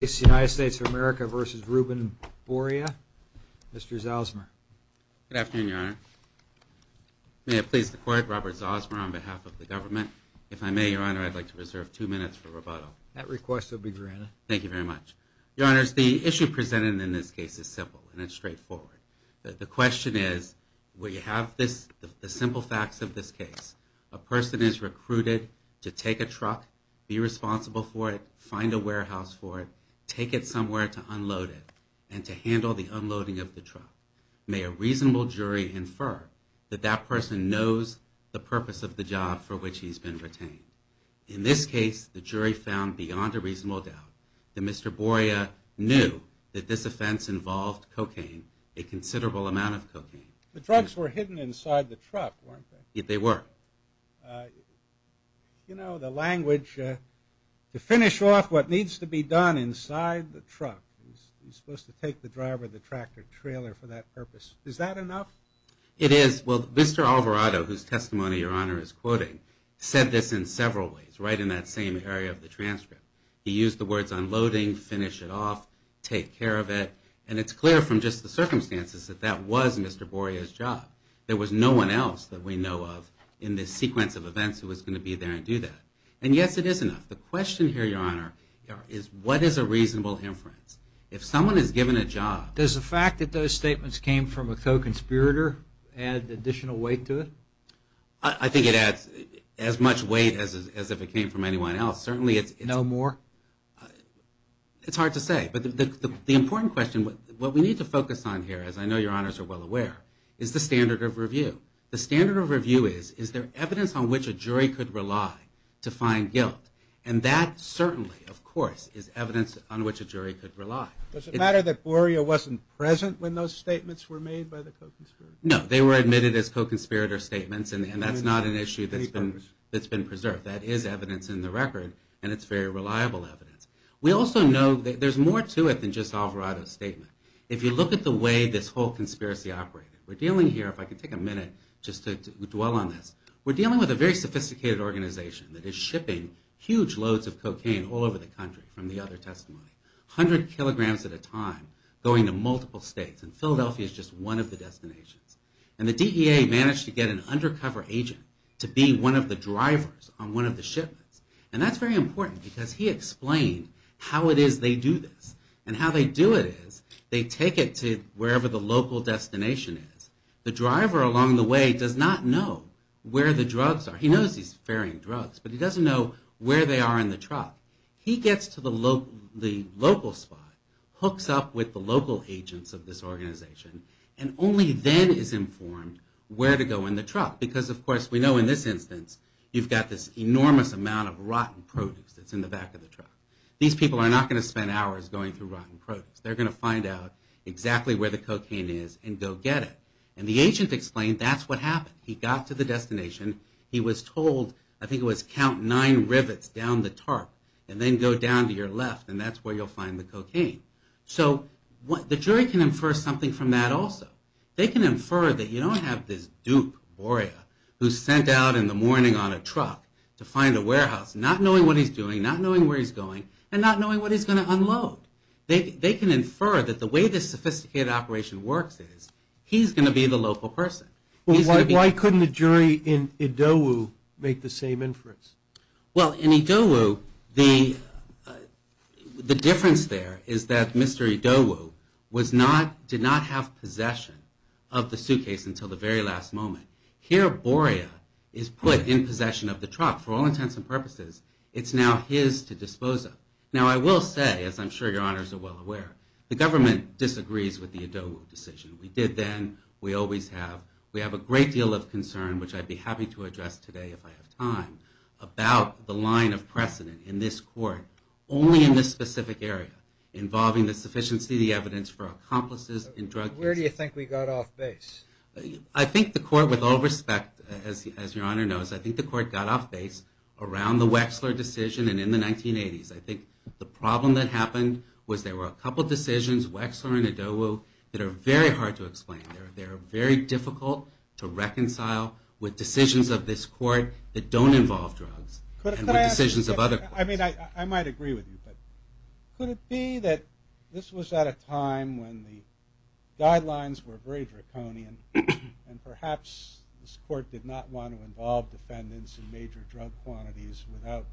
It's the United States of America versus Reuben Boria, Mr. Zosmer. Good afternoon, Your Honor. May I please the court, Robert Zosmer on behalf of the government. If I may, Your Honor, I'd like to reserve two minutes for rebuttal. That request will be granted. Thank you very much. Your Honors, the issue presented in this case is simple and it's straightforward. The question is, we have the simple facts of this case. A person is recruited to take a truck, be responsible for it, find a warehouse for it, take it somewhere to unload it, and to handle the unloading of the truck. May a reasonable jury infer that that person knows the purpose of the job for which he's been retained. In this case, the jury found beyond a reasonable doubt that Mr. Boria knew that this offense involved cocaine, a considerable amount of cocaine. The drugs were hidden inside the truck, weren't they? They were. You know, the language, to finish off what needs to be done inside the truck. You're supposed to take the driver of the tractor-trailer for that purpose. Is that enough? It is. Well, Mr. Alvarado, whose testimony Your Honor is quoting, said this in several ways right in that same area of the transcript. He used the words unloading, finish it off, take care of it, and it's clear from just the circumstances that that was Mr. Boria's job. There was no one else that we know of in this sequence of events who was going to be there and do that. And yes, it is enough. The question here, Your Honor, is what is a reasonable inference? If someone is given a job... Does the fact that those statements came from a co-conspirator add additional weight to it? I think it adds as much weight as if it came from anyone else. Certainly it's... No more? It's hard to say, but the important question, what we need to focus on here, as I know Your Honors are well aware, is the standard of review. The standard of review is, is there evidence on which a jury could rely to find guilt? And that certainly, of course, is evidence on which a jury could rely. Does it matter that Boria wasn't present when those statements were made by the co-conspirators? No. They were admitted as co-conspirator statements, and that's not an issue that's been preserved. That is evidence in the record, and it's very reliable evidence. We also know that there's more to it than just Alvarado's statement. If you look at the way this whole conspiracy operated, we're dealing here, if I could take a minute just to dwell on this, we're dealing with a very sophisticated organization that is shipping huge loads of cocaine all over the country from the other testimony, 100 kilograms at a time going to multiple states, and Philadelphia is just one of the destinations. And the DEA managed to get an undercover agent to be one of the drivers on one of the shipments. And that's very important because he explained how it is they do this, and how they do it is they take it to wherever the local destination is. The driver along the way does not know where the drugs are. He knows he's ferrying drugs, but he doesn't know where they are in the truck. He gets to the local spot, hooks up with the local agents of this organization, and only then is informed where to go in the truck. Because, of course, we know in this instance you've got this enormous amount of rotten produce that's in the back of the truck. These people are not going to spend hours going through rotten produce. They're going to find out exactly where the cocaine is and go get it. And the agent explained that's what happened. He got to the destination. He was told, I think it was count nine rivets down the tarp and then go down to your left, and that's where you'll find the cocaine. So the jury can infer something from that also. They can infer that you don't have this Duke warrior who's sent out in the morning on a truck to find a warehouse, not knowing what he's doing, not knowing where he's going, and not knowing what he's going to unload. They can infer that the way this sophisticated operation works is he's going to be the local person. Why couldn't a jury in Idowu make the same inference? Well, in Idowu, the difference there is that Mr. Idowu did not have possession of the suitcase until the very last moment. Here, Borea is put in possession of the truck for all intents and purposes. It's now his to dispose of. Now, I will say, as I'm sure your honors are well aware, the government disagrees with the Idowu decision. We did then. We always have. We have a great deal of concern, which I'd be happy to address today if I have time, about the line of precedent in this court, only in this specific area, involving the sufficiency of the evidence for accomplices in drug cases. Where do you think we got off base? I think the court, with all respect, as your honor knows, I think the court got off base around the Wexler decision and in the 1980s. I think the problem that happened was there were a couple decisions, Wexler and Idowu, that are very hard to explain. They're very difficult to reconcile with decisions of this court that don't involve drugs and with decisions of other courts. I mean, I might agree with you, but could it be that this was at a time when the guidelines were very draconian and perhaps this court did not want to involve defendants in major drug quantities without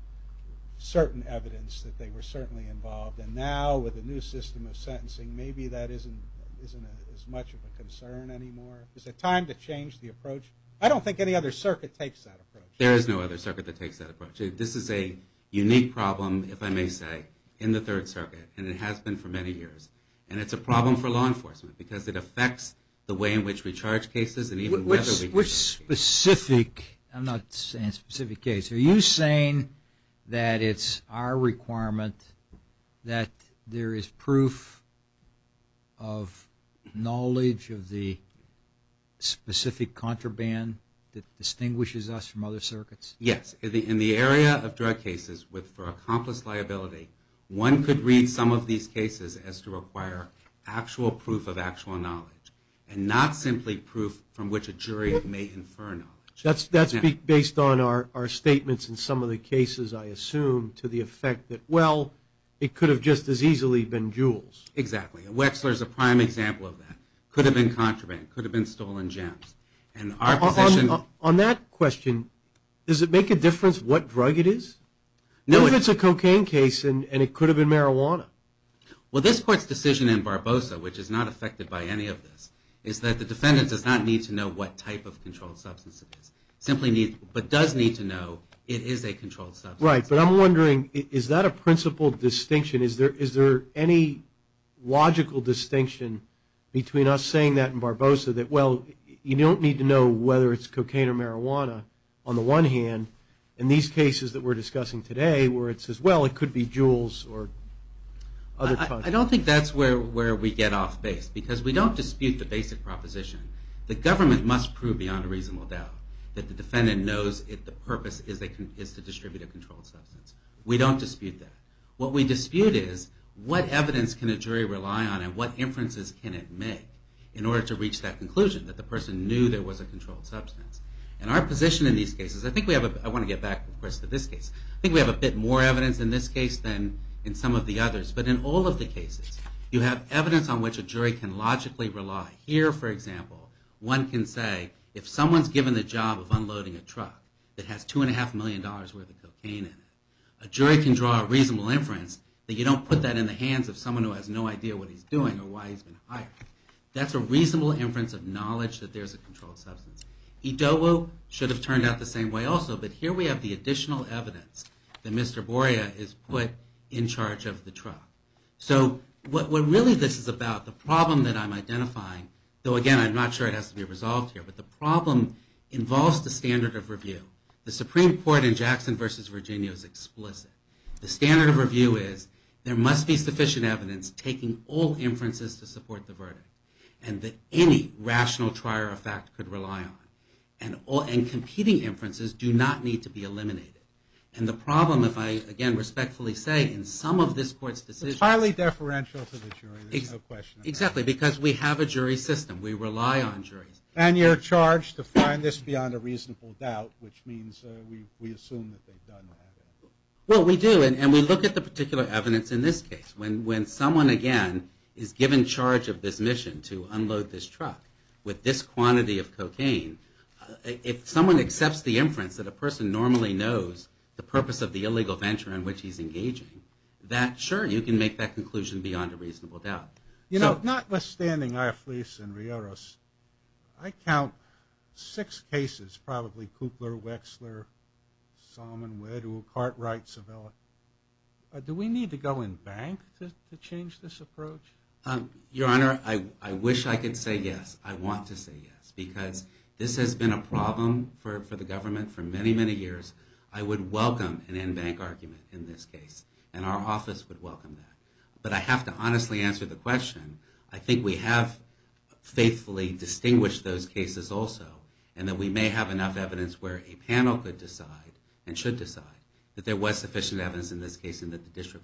certain evidence that they were certainly involved? And now, with the new system of sentencing, maybe that isn't as much of a concern anymore? Is it time to change the approach? I don't think any other circuit takes that approach. There is no other circuit that takes that approach. This is a unique problem, if I may say, in the Third Circuit, and it has been for many years. And it's a problem for law enforcement because it affects the way in which we charge cases... Which specific... I'm not saying specific case. Are you saying that it's our requirement that there is proof of knowledge of the specific contraband that distinguishes us from other circuits? Yes. In the area of drug cases, for accomplice liability, one could read some of these cases as to require actual proof of actual knowledge and not simply proof from which a jury may infer knowledge. That's based on our statements in some of the cases, I assume, to the effect that, well, it could have just as easily been Jules. Exactly. Wexler is a prime example of that. It could have been contraband. It could have been stolen gems. On that question, does it make a difference what drug it is? What if it's a cocaine case and it could have been marijuana? Well, this Court's decision in Barbosa, which is not affected by any of this, is that the defendant does not need to know what type of controlled substance it is. Simply does need to know it is a controlled substance. Right. But I'm wondering, is that a principal distinction? Is there any logical distinction between us saying that in Barbosa, that, well, you don't need to know whether it's cocaine or marijuana, on the one hand, in these cases that we're discussing today, where it says, well, it could be Jules or other drugs? I don't think that's where we get off base. Because we don't dispute the basic proposition. The government must prove beyond a reasonable doubt that the defendant knows the purpose is to distribute a controlled substance. We don't dispute that. What we dispute is, what evidence can a jury rely on and what inferences can it make in order to reach that conclusion, that the person knew there was a controlled substance. And our position in these cases, I want to get back, of course, to this case. I think we have a bit more evidence in this case than in some of the others. But in all of the cases, you have evidence on which a jury can logically rely. Here, for example, one can say, if someone's given the job of unloading a truck that has $2.5 million worth of cocaine in it, a jury can draw a reasonable inference that you don't put that in the hands of someone who has no idea what he's doing or why he's been hired. That's a reasonable inference of knowledge that there's a controlled substance. Idowu should have turned out the same way also, but here we have the additional evidence that Mr. Boria is put in charge of the truck. So what really this is about, the problem that I'm identifying, though again, I'm not sure it has to be resolved here, but the problem involves the standard of review. The Supreme Court in Jackson v. Virginia is explicit. The standard of review is, there must be sufficient evidence taking all inferences to support the verdict. And that any rational trier of fact could rely on. And competing inferences do not need to be eliminated. And the problem, if I again respectfully say, in some of this Court's decisions... It's highly deferential to the jury, there's no question. Exactly, because we have a jury system. We rely on juries. And you're charged to find this beyond a reasonable doubt, which means we assume that they've done that. Well, we do, and we look at the particular evidence in this case. When someone again is given charge of this mission to unload this truck with this quantity of cocaine, if someone accepts the inference that a person normally knows the purpose of the illegal venture in which he's engaging, that, sure, you can make that conclusion beyond a reasonable doubt. Notwithstanding, Ioffice and Rioros, I count Kupler, Wexler, Salmon, Weddell, Cartwright, Civella. Do we need to go in bank to change this approach? Your Honor, I wish I could say yes. I want to say yes. Because this has been a problem for the government for many, many years. I would welcome an in-bank argument in this case, and our office would welcome that. But I have to honestly answer the question. I think we have faithfully distinguished those cases also, and that we may have enough evidence where a panel could decide, and should decide, that there was sufficient evidence in this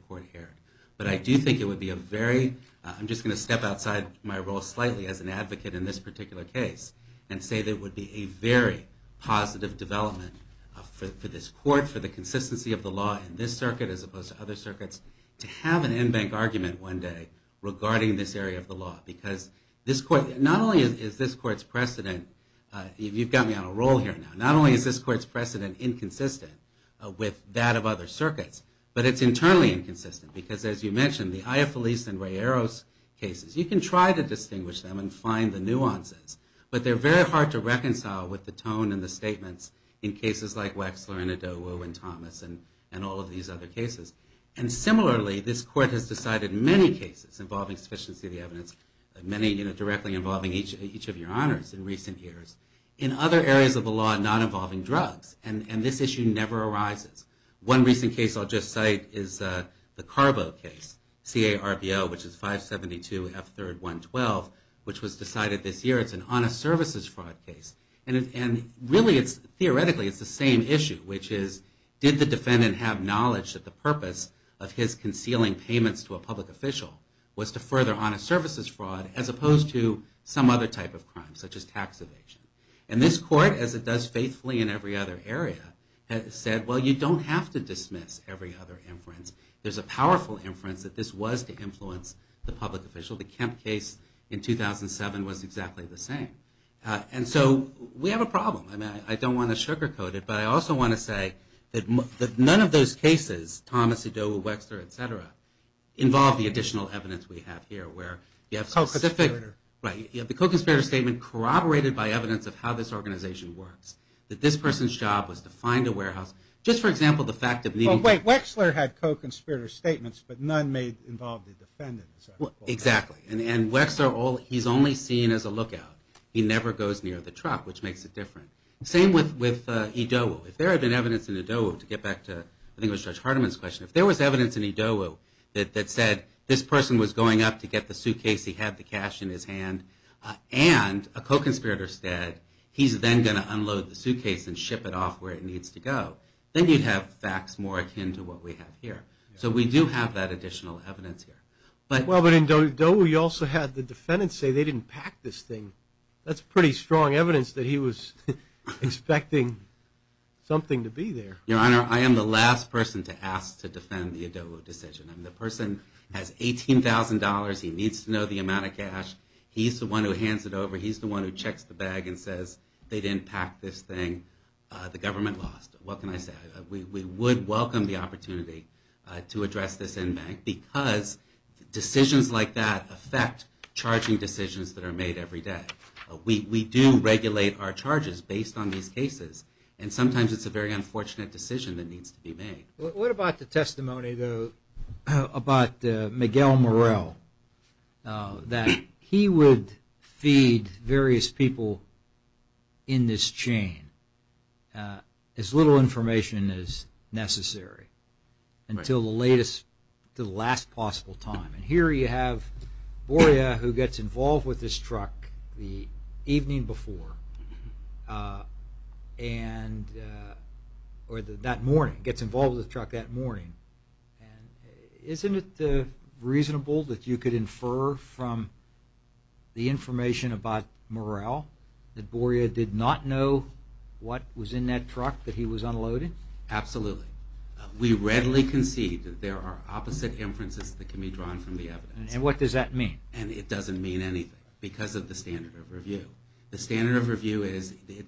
court here. But I do think it would be a very, I'm just going to step outside my role slightly as an advocate in this particular case, and say that it would be a very positive development for this court, for the consistency of the law in this circuit as opposed to other circuits, to have an in-bank argument one day regarding this area of the law. Because not only is this court's precedent, you've got me on a roll here now, not only is this court's precedent inconsistent with that of other circuits, but it's internally inconsistent. Because as you mentioned, the Aya Feliz and Ray Eros cases, you can try to distinguish them and find the nuances, but they're very hard to reconcile with the tone and the statements in cases like Wexler and Adobo and Thomas, and all of these other cases. And similarly, this court has decided many cases involving sufficiency of the evidence, many directly involving each of your honors in recent years, in other areas of the law not involving drugs. And this issue never arises. One recent case I'll just cite is the Carbo case, C-A-R-B-O, which is 572 F3-112, which was decided this year, it's an honest services fraud case. And really it's, theoretically it's the same issue, which is did the defendant have knowledge that the purpose of his concealing payments to a public official was to further honest services fraud as opposed to some other type of crime, such as tax evasion. And this court, as it does in every other area, has said, well, you don't have to dismiss every other inference. There's a powerful inference that this was to influence the public official. The Kemp case in 2007 was exactly the same. And so we have a problem. I mean, I don't want to sugarcoat it, but I also want to say that none of those cases, Thomas, Adobo, Wexler, et cetera, involve the additional evidence we have here, where you have the co-conspirator statement corroborated by evidence of how this organization works. That this person's job was to find a warehouse. Just for example, the fact of needing... Wait, Wexler had co-conspirator statements, but none involved the defendant. Exactly. And Wexler, he's only seen as a lookout. He never goes near the truck, which makes it different. Same with Adobo. If there had been evidence in Adobo, to get back to I think it was Judge Hardiman's question, if there was evidence in Adobo that said this person was going up to get the suitcase, he had the cash in his hand, and a co-conspirator said he's then going to unload the suitcase and ship it off where it needs to go, then you'd have facts more akin to what we have here. So we do have that additional evidence here. Well, but in Adobo you also had the defendant say they didn't pack this thing. That's pretty strong evidence that he was expecting something to be there. Your Honor, I am the last person to ask to defend the Adobo decision. The person has $18,000, he needs to know the amount of cash, he's the one who hands it over, he's the one who checks the bag and says they didn't pack this thing, the government lost. What can I say? We would welcome the opportunity to address this in bank, because decisions like that affect charging decisions that are made every day. We do regulate our charges based on these cases, and sometimes it's a very unfortunate decision that needs to be made. What about the testimony about Miguel Morel, that he would feed various people in this chain as little information as necessary until the latest, the last possible time. Here you have Borja, who gets involved with this truck the evening before, and that morning, gets involved with the truck that morning. Isn't it reasonable that you could infer from the information about Morel that Borja did not know what was in that truck that he was unloading? Absolutely. We readily concede that there are opposite inferences that can be drawn from the evidence. And what does that mean? It doesn't mean anything, because of the standard of review. The standard of review is the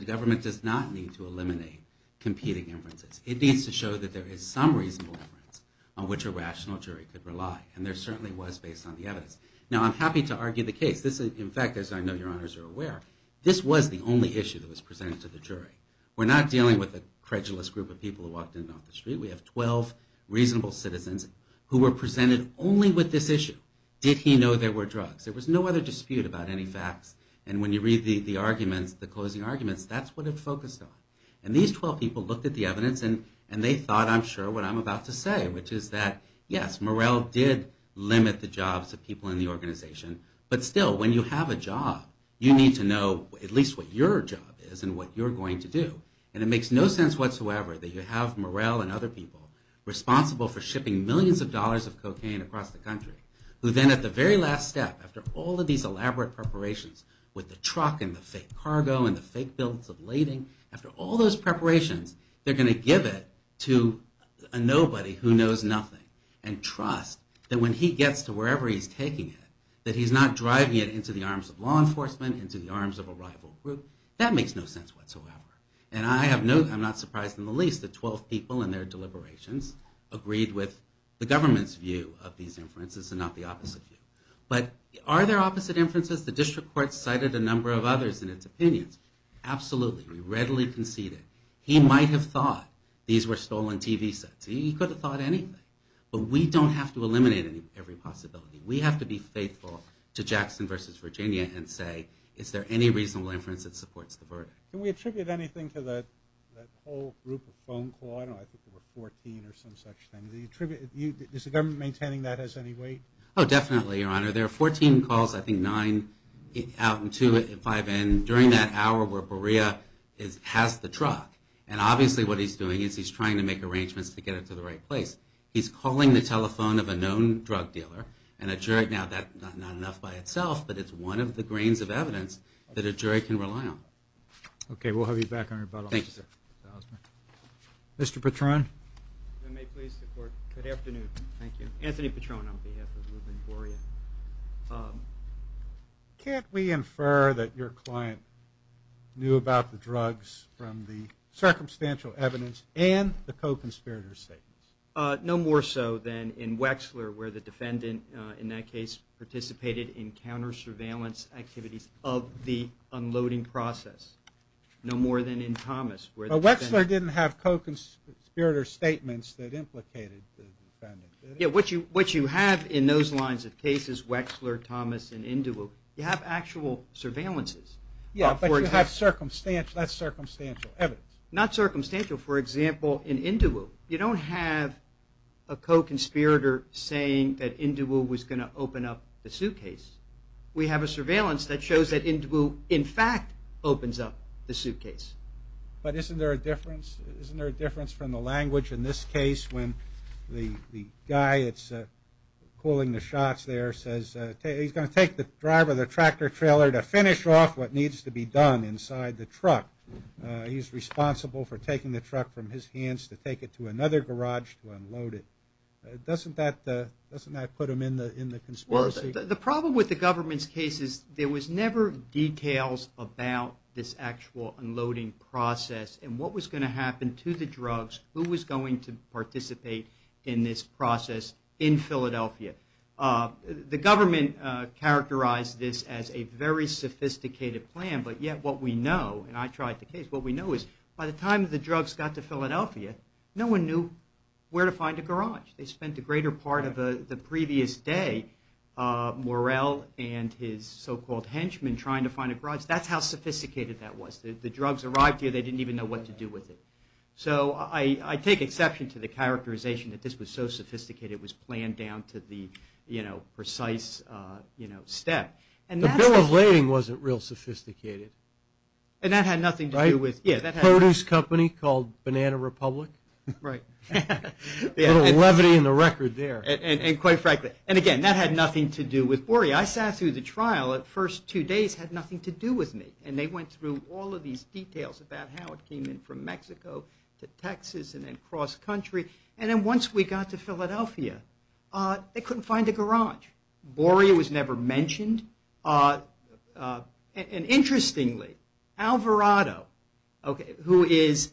government does not need to eliminate competing inferences. It needs to show that there is some reasonable inference on which a rational jury could rely. And there certainly was based on the evidence. Now I'm happy to argue the case. In fact, as I know your honors are aware, this was the only issue that was presented to the jury. We're not dealing with a credulous group of people who walked in on the street. We have 12 reasonable citizens who were presented only with this issue. Did he know there were drugs? There was no other dispute about any facts. And when you read the arguments, the closing arguments, that's what it focused on. And these 12 people looked at the evidence and they thought, I'm sure, what I'm about to say, which is that, yes, Morrell did limit the jobs of people in the organization. But still, when you have a job, you need to know at least what your job is and what you're going to do. And it makes no sense whatsoever that you have Morrell and other people responsible for shipping millions of dollars of cocaine across the country, who then at the very last step, after all of these elaborate preparations with the truck and the fake cargo and the fake bills of lading, after all those preparations, they're going to give it to a nobody who knows nothing and trusts that when he gets to wherever he's taking it, that he's not driving it into the arms of law enforcement, into the arms of a rival group. That makes no sense whatsoever. And I'm not surprised in the least that 12 people in their deliberations agreed with the government's view of these inferences and not the opposite view. But are there opposite inferences? The district court cited a number of others in its opinions. Absolutely. We readily concede it. He might have thought these were stolen TV sets. He could have thought anything. But we don't have to eliminate every possibility. We have to be faithful to Jackson versus Virginia and say, is there any reasonable inference that supports the verdict? Can we attribute anything to that whole group of phone calls? I don't know, I think there were 14 or some such thing. Is the government maintaining that as any weight? Oh, definitely, Your Honor. There are 14 calls, I think nine out and two at 5N during that hour where Borea is past the truck. And obviously what he's doing is he's trying to make arrangements to get it to the right place. He's calling the telephone of a known drug dealer and a jury, now that's not enough by itself, but it's one of the grains of evidence that a jury can rely on. Okay, we'll have you back on rebuttal. Thank you, sir. Mr. Patron. If I may please the court. Good afternoon. Thank you. Anthony Patron on behalf of Ruben Borea. Can't we infer that your client knew about the drugs from the circumstantial evidence and the co-conspirator statements? No more so than in Wexler where the defendant in that case participated in counter-surveillance activities of the unloading process. No more than in Thomas. Well, Wexler didn't have co-conspirator statements that implicated the defendant. What you have in those lines of cases, Wexler, Thomas, and Induwu, you have actual surveillances. Yeah, but you have circumstantial evidence. Not circumstantial. For example, in Induwu, you don't have a co-conspirator saying that Induwu was going to open up the suitcase. We have a surveillance that shows that Induwu in fact opens up the suitcase. But isn't there a difference from the language in this case? The guy that's pulling the shots there says he's going to take the driver of the tractor-trailer to finish off what needs to be done inside the truck. He's responsible for taking the truck from his hands to take it to another garage to unload it. Doesn't that put him in the conspiracy? Well, the problem with the government's case is there was never details about this actual unloading process and what was going to happen to the drugs, who was going to participate in this process in Philadelphia. The government characterized this as a very sophisticated plan, but yet what we know, and I tried the case, what we know is by the time the drugs got to Philadelphia no one knew where to find a garage. They spent a greater part of the previous day, Morell and his so-called henchmen trying to find a garage. That's how sophisticated that was. The drugs arrived here, they didn't even know what to do with it. So I take exception to the characterization that this was so sophisticated, it was planned down to the precise step. The bill of lading wasn't real sophisticated. And that had nothing to do with... Produce company called Banana Republic. Right. A little levity in the record there. And quite frankly, and again, that had nothing to do with Borey. I sat through the trial the first two days had nothing to do with me, and they went through all of these details about how it came in from Mexico to Texas and then cross country, and then once we got to Philadelphia they couldn't find a garage. Borey was never mentioned. And interestingly, Alvarado, who is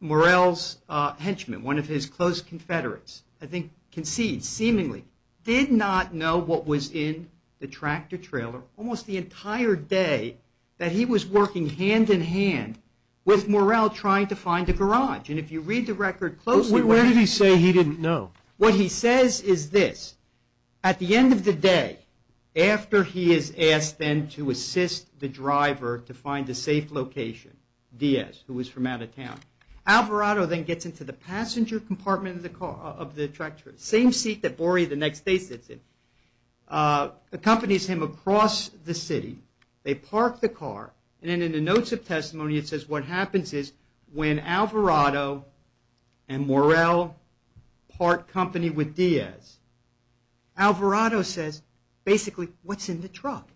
Morell's henchman, one of his close confederates, I think concedes, seemingly, did not know what was in the tractor trailer almost the entire day that he was working hand in hand with Morell trying to find a garage. And if you read the record closely... Where did he say he didn't know? What he says is this. At the end of the day, after he is asked then to assist the driver to find a safe location, Diaz, who was from out of town, Alvarado then gets into the passenger compartment of the tractor. Same seat that Borey the next day sits in. Accompanies him across the city. They park the car. And in the notes of testimony it says what happens is when Alvarado and Morell part company with Diaz. Alvarado says, basically, what's in the truck?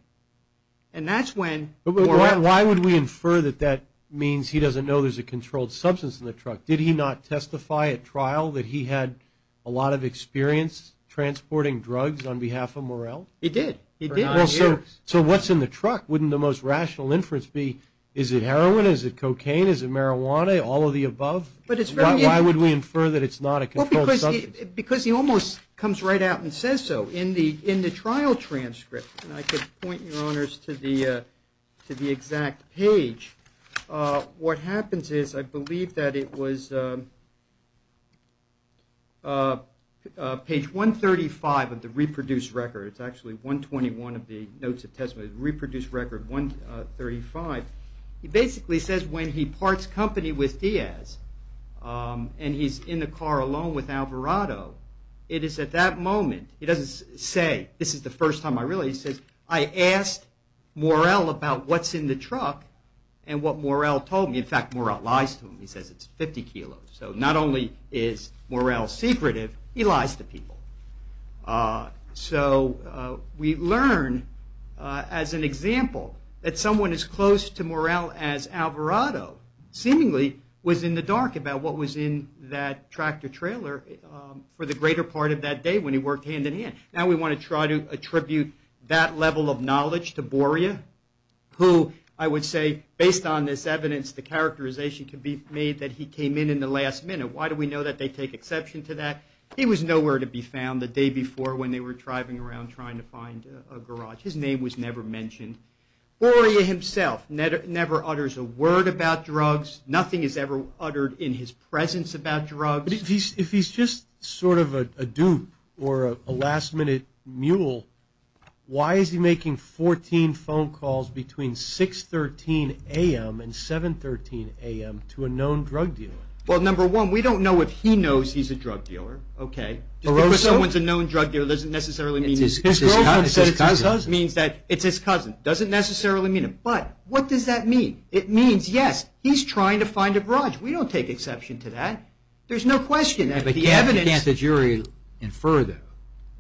And that's when Morell... Why would we infer that that means he doesn't know there's a controlled substance in the truck? Did he not testify at trial that he had a lot of experience transporting drugs on behalf of Morell? He did. He did. So what's in the truck? Wouldn't the most rational inference be, is it heroin? Is it cocaine? Is it marijuana? All of the above? Why would we infer that it's not a controlled substance? Because he almost comes right out and says so. In the trial transcript, and I could point your honors to the exact page, what happens is I believe that it was page 135 of the reproduced record. It's actually 121 of the notes of testimony. Reproduced record 135. He basically says when he parts company with Diaz and he's in the car alone with Alvarado, it is at that moment, he doesn't say this is the first time I really... He says, I asked Morell about what's in the truck and what Morell told me. In fact, Morell lies to him. He says it's 50 kilos. So not only is Morell secretive, he lies to people. So we learn as an example that someone as close to Morell as Alvarado seemingly was in the dark about what was in that tractor trailer for the greater part of that day when he worked hand in hand. Now we want to try to attribute that level of knowledge to Boria, who I would say, based on this evidence, the characterization could be made that he came in in the last minute. Why do we know that they take exception to that? He was nowhere to be found the day before when they were driving around trying to find a garage. His name was never mentioned. Boria himself never utters a word about drugs. Nothing is ever uttered in his presence about drugs. If he's just sort of a dupe or a last minute mule, why is he making 14 phone calls between 6.13 a.m. and 7.13 a.m. to a known drug dealer? Well, number one, we don't know if he knows he's a drug dealer. Just because someone's a known drug dealer doesn't necessarily mean he's his cousin. It means that it's his cousin. Doesn't necessarily mean it. But what does that mean? It means, yes, he's trying to find a garage. We don't take exception to that. There's no question that the evidence... You can't the jury infer though,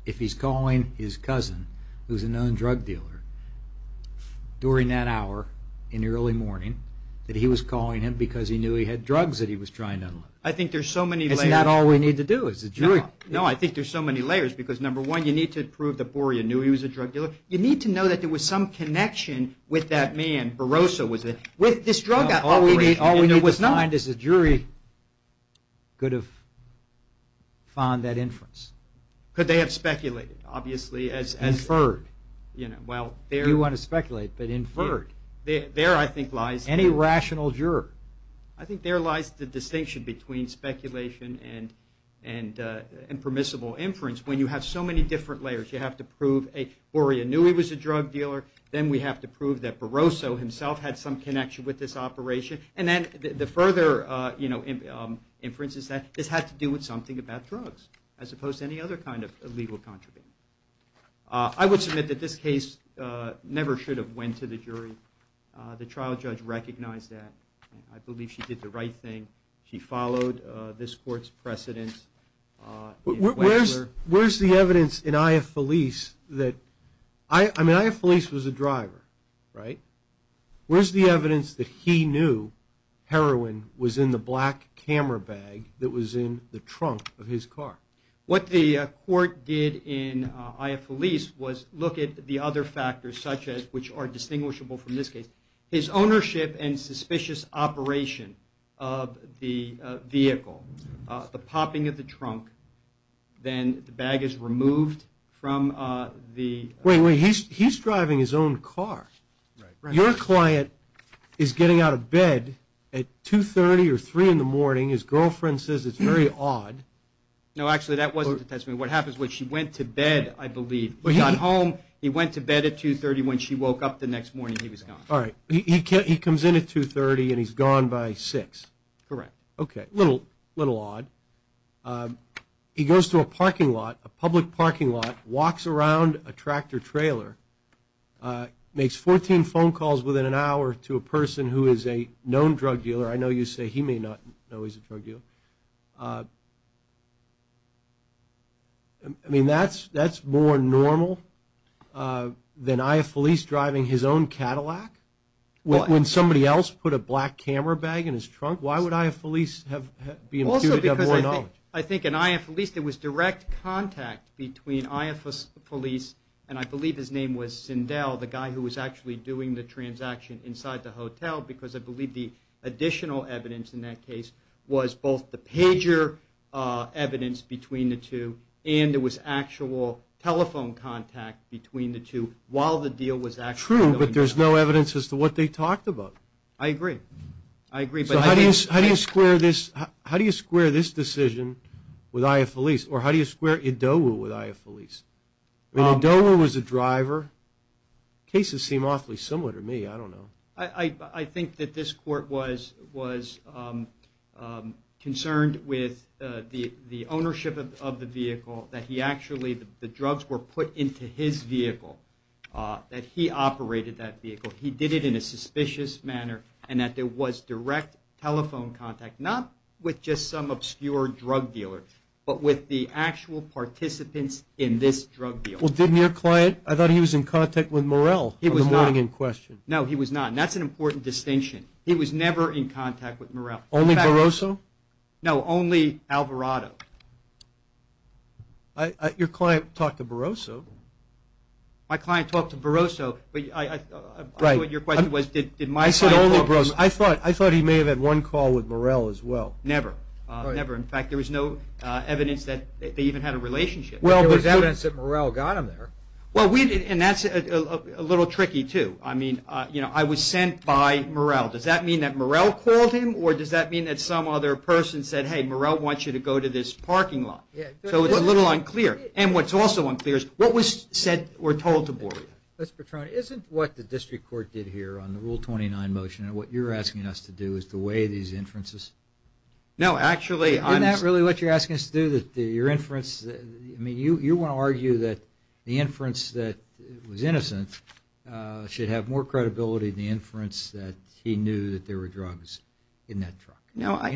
if he's calling his cousin, who's a known drug dealer, during that hour in the early morning that he was calling him because he knew he had drugs that he was trying to unload. I think there's so many layers. Isn't that all we need to do as a jury? No, I think there's so many layers because, number one, you need to prove that Boria knew he was a drug dealer. You need to know that there was some connection with that man, Barossa, with this drug guy. All we need to find is the jury could have found that inference. Could they have speculated, obviously, as... Inferred. You want to speculate, but inferred. There, I think, lies... Any rational juror. I think there lies the distinction between speculation and permissible inference, when you have so many different layers. You have to prove Boria knew he was a drug dealer. Then we have to prove that Barossa himself had some connection with this operation. And then the further inference is that this had to do with something about drugs, as opposed to any other kind of legal contribution. I would submit that this case never should have went to the jury. The trial judge recognized that. I believe she did the right thing. She followed this court's precedence. Where's the evidence in Ayah Feliz that... I mean, Ayah Feliz was a driver. Right? Where's the evidence that he knew heroin was in the black camera bag that was in the trunk of his car? What the court did in Ayah Feliz was look at the other factors such as, which are distinguishable from this case. His ownership and suspicious operation of the vehicle. The popping of the trunk. Then the bag is removed from the... He's driving his own car. Your client is getting out of bed at 2.30 or 3 in the morning. His girlfriend says it's very odd. No, actually that wasn't the testimony. What happens was she went to bed, I believe. He got home. He went to bed at 2.30 when she woke up the next morning. He was gone. Alright. He comes in at 2.30 and he's gone by 6. Correct. Okay. A little odd. He goes to a parking lot, a public parking lot. Walks around a tractor trailer. Makes 14 phone calls within an hour to a person who is a known drug dealer. I know you say he may not know he's a drug dealer. I mean, that's more normal than I.F. Felice driving his own Cadillac? When somebody else put a black camera bag in his trunk, why would I.F. Felice have more knowledge? I think in I.F. Felice there was direct contact between I.F. Felice and I believe his name was Sindel, the guy who was actually doing the transaction inside the hotel because I believe the additional evidence in that case was both the pager evidence between the two and there was actual telephone contact between the two while the deal was actually going on. True, but there's no evidence as to what they talked about. I agree. So how do you square this decision with I.F. Felice or how do you square Idowu with I.F. Felice? I mean, Idowu was the driver. Cases seem awfully similar to me. I don't know. I think that this court was concerned with the ownership of the vehicle that he actually, the drugs were put into his vehicle that he operated that vehicle. He did it in a suspicious manner and that there was direct telephone contact, not with just some obscure drug dealer but with the actual participants in this drug deal. Well, didn't your client, I thought he was in contact with Morell in the morning in question. No, he was not and that's an important distinction. He was never in contact with Morell. Only Barroso? No, only Alvarado. Your client talked to Barroso. My client talked to Barroso, but I know what your question was. I said only Barroso. I thought he may have had one call with Morell as well. Never. Never. In fact, there was no evidence that they even had a relationship. Well, there was evidence that Morell got him there. And that's a little tricky too. I was sent by Morell. Does that mean that Morell called him? Or does that mean that some other person said hey, Morell wants you to go to this parking lot? So it's a little unclear. And what's also unclear is what was said or told to Boria? Isn't what the District Court did here on the Rule 29 motion and what you're asking us to do is to weigh these inferences? No, actually I'm... Isn't that really what you're asking us to do? You want to argue that the inference that was innocent should have more credibility than the inference that he knew that there were drugs in that truck.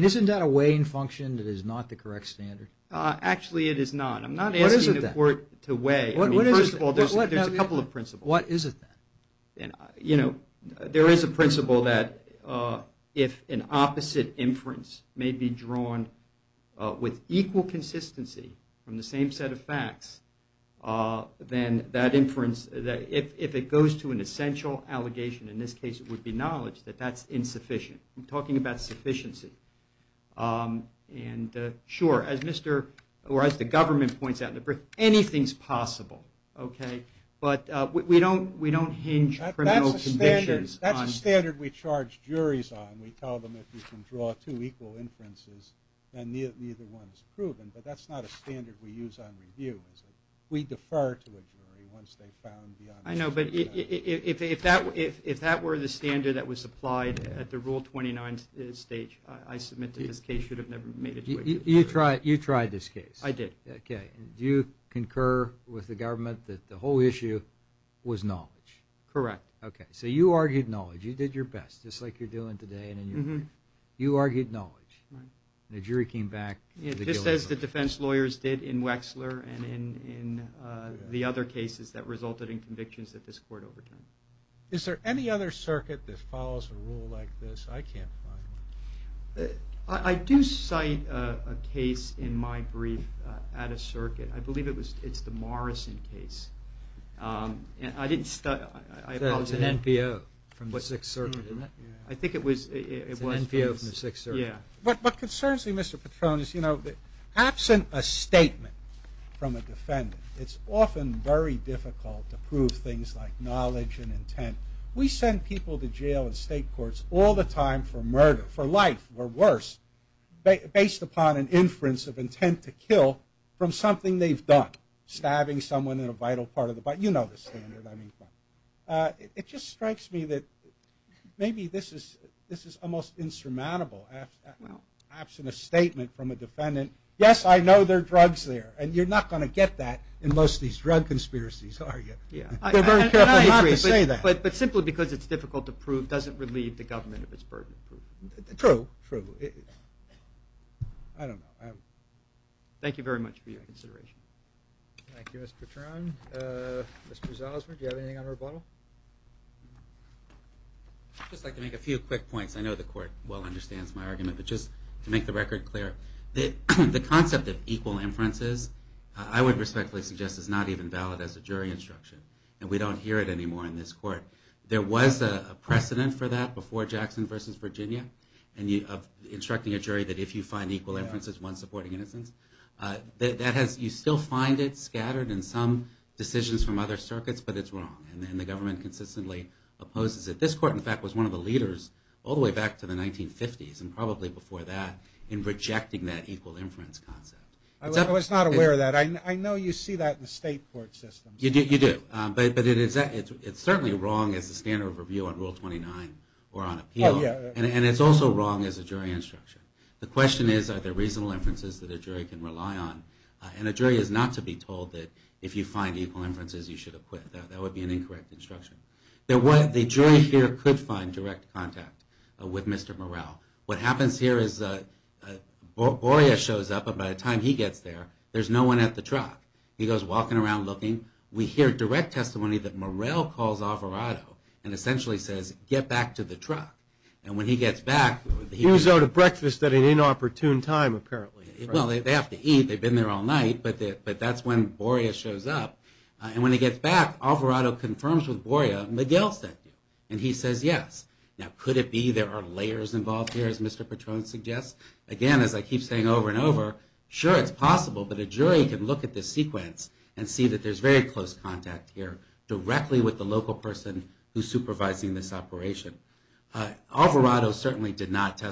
Isn't that a weighing function that is not the correct standard? Actually, it is not. I'm not asking the Court to weigh. First of all, there's a couple of principles. What is it then? You know, there is a principle that if an opposite inference may be drawn with equal consistency from the same set of facts, then that inference, if it goes to an essential allegation, in this case it would be knowledge, that that's insufficient. I'm talking about sufficiency. Sure, as Mr. or as the government points out in the brief, anything's possible. But we don't hinge criminal convictions on... That's a standard we charge juries on. We tell them if you can draw two equal inferences, then neither one is proven. But that's not a standard we use on review. We defer to a jury once they've found the... If that were the standard that was applied at the Rule 29 stage, I submit that this case should have never made it... You tried this case. I did. Do you concur with the government that the whole issue was knowledge? Correct. So you argued knowledge. You did your best. Just like you're doing today. You argued knowledge. The jury came back... Just as the defense lawyers did in Wexler and in the other cases that resulted in convictions that this court overturned. Is there any other circuit that follows a rule like this? I can't find one. I do cite a case in my brief at a circuit. I believe it was the Morrison case. I didn't... It's an NPO from the 6th Circuit, isn't it? I think it was... It's an NPO from the 6th Circuit. What concerns me, Mr. Petrone, is absent a statement from a defendant, it's often very difficult to prove things like knowledge and intent. We send people to jail and state courts all the time for murder, for life or worse, based upon an inference of intent to kill from something they've done. Stabbing someone in a vital part of the body. You know the standard. It just strikes me that maybe this is almost insurmountable. Absent a statement from a defendant, yes, I know there are drugs there, and you're not going to get that in most of these drug conspiracies, are you? They're very careful not to say that. But simply because it's difficult to prove doesn't relieve the government of its burden. True. I don't know. Thank you very much for your consideration. Thank you, Mr. Petrone. Mr. Zausman, do you have anything on rebuttal? I'd just like to make a few quick points. I know the court well understands my argument, but just to make the record clear. The concept of equal inferences, I would respectfully suggest is not even valid as a jury instruction. And we don't hear it anymore in this court. There was a precedent for that before Jackson v. Virginia of instructing a jury that if you find equal inferences, one's supporting innocence. You still find it scattered in some decisions from other circuits, but it's wrong. And the government consistently opposes it. This court, in fact, was one of the leaders all the way back to the 1950s, and probably before that, in rejecting that equal inference concept. I was not aware of that. I know you see that in state court systems. You do. But it's certainly wrong as a standard of review on Rule 29 or on appeal, and it's also wrong as a jury instruction. The question is, are there reasonable inferences that a jury can rely on? And a jury is not to be told that if you find equal inferences, you should acquit. That would be an incorrect instruction. The jury here could find direct contact with Mr. Morell. What happens here is Boria shows up, and by the time he gets there, there's no one at the truck. He goes walking around looking. We hear direct testimony that Morell calls Alvarado and essentially says, get back to the truck. And when he gets back... He was out of breakfast at an inopportune time, apparently. Well, they have to eat. They've been there all night, but that's when Boria shows up. And when he gets back, Alvarado confirms with Boria, Miguel sent you. And he says yes. Now, could it be there are layers involved here, as Mr. Petrone suggests? Again, as I keep saying over and over, sure, it's possible, but a jury can look at this sequence and see that there's very close contact here directly with the local person who's supervising this operation. Alvarado certainly did not take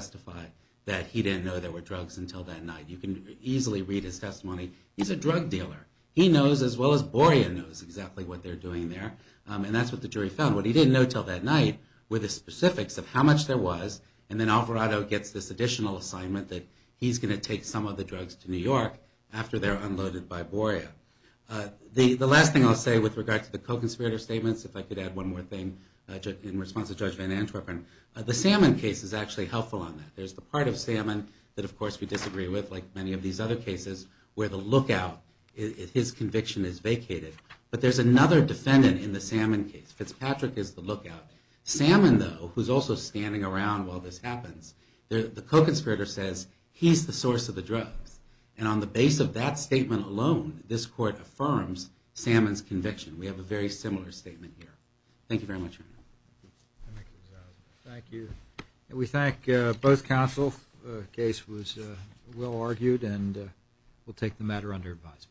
drugs until that night. You can easily read his testimony. He's a drug dealer. He knows as well as Boria knows exactly what they're doing there. And that's what the jury found. What he didn't know until that night were the specifics of how much there was, and then Alvarado gets this additional assignment that he's going to take some of the drugs to New York after they're unloaded by Boria. The last thing I'll say with regard to the co-conspirator statements, if I could add one more thing in response to Judge Van Antwerpen, the Salmon case is actually helpful on that. There's the part of Salmon that, of course, we disagree with, like many of these other cases, where the lookout in his conviction is vacated. But there's another defendant in the Salmon case. Fitzpatrick is the lookout. Salmon, though, who's also standing around while this happens, the co-conspirator says, he's the source of the drugs. And on the base of that statement alone, this court affirms Salmon's conviction. We have a very similar statement here. Thank you very much, Your Honor. Thank you. We thank both counsel. The case was well argued, and we'll take the matter under advisement.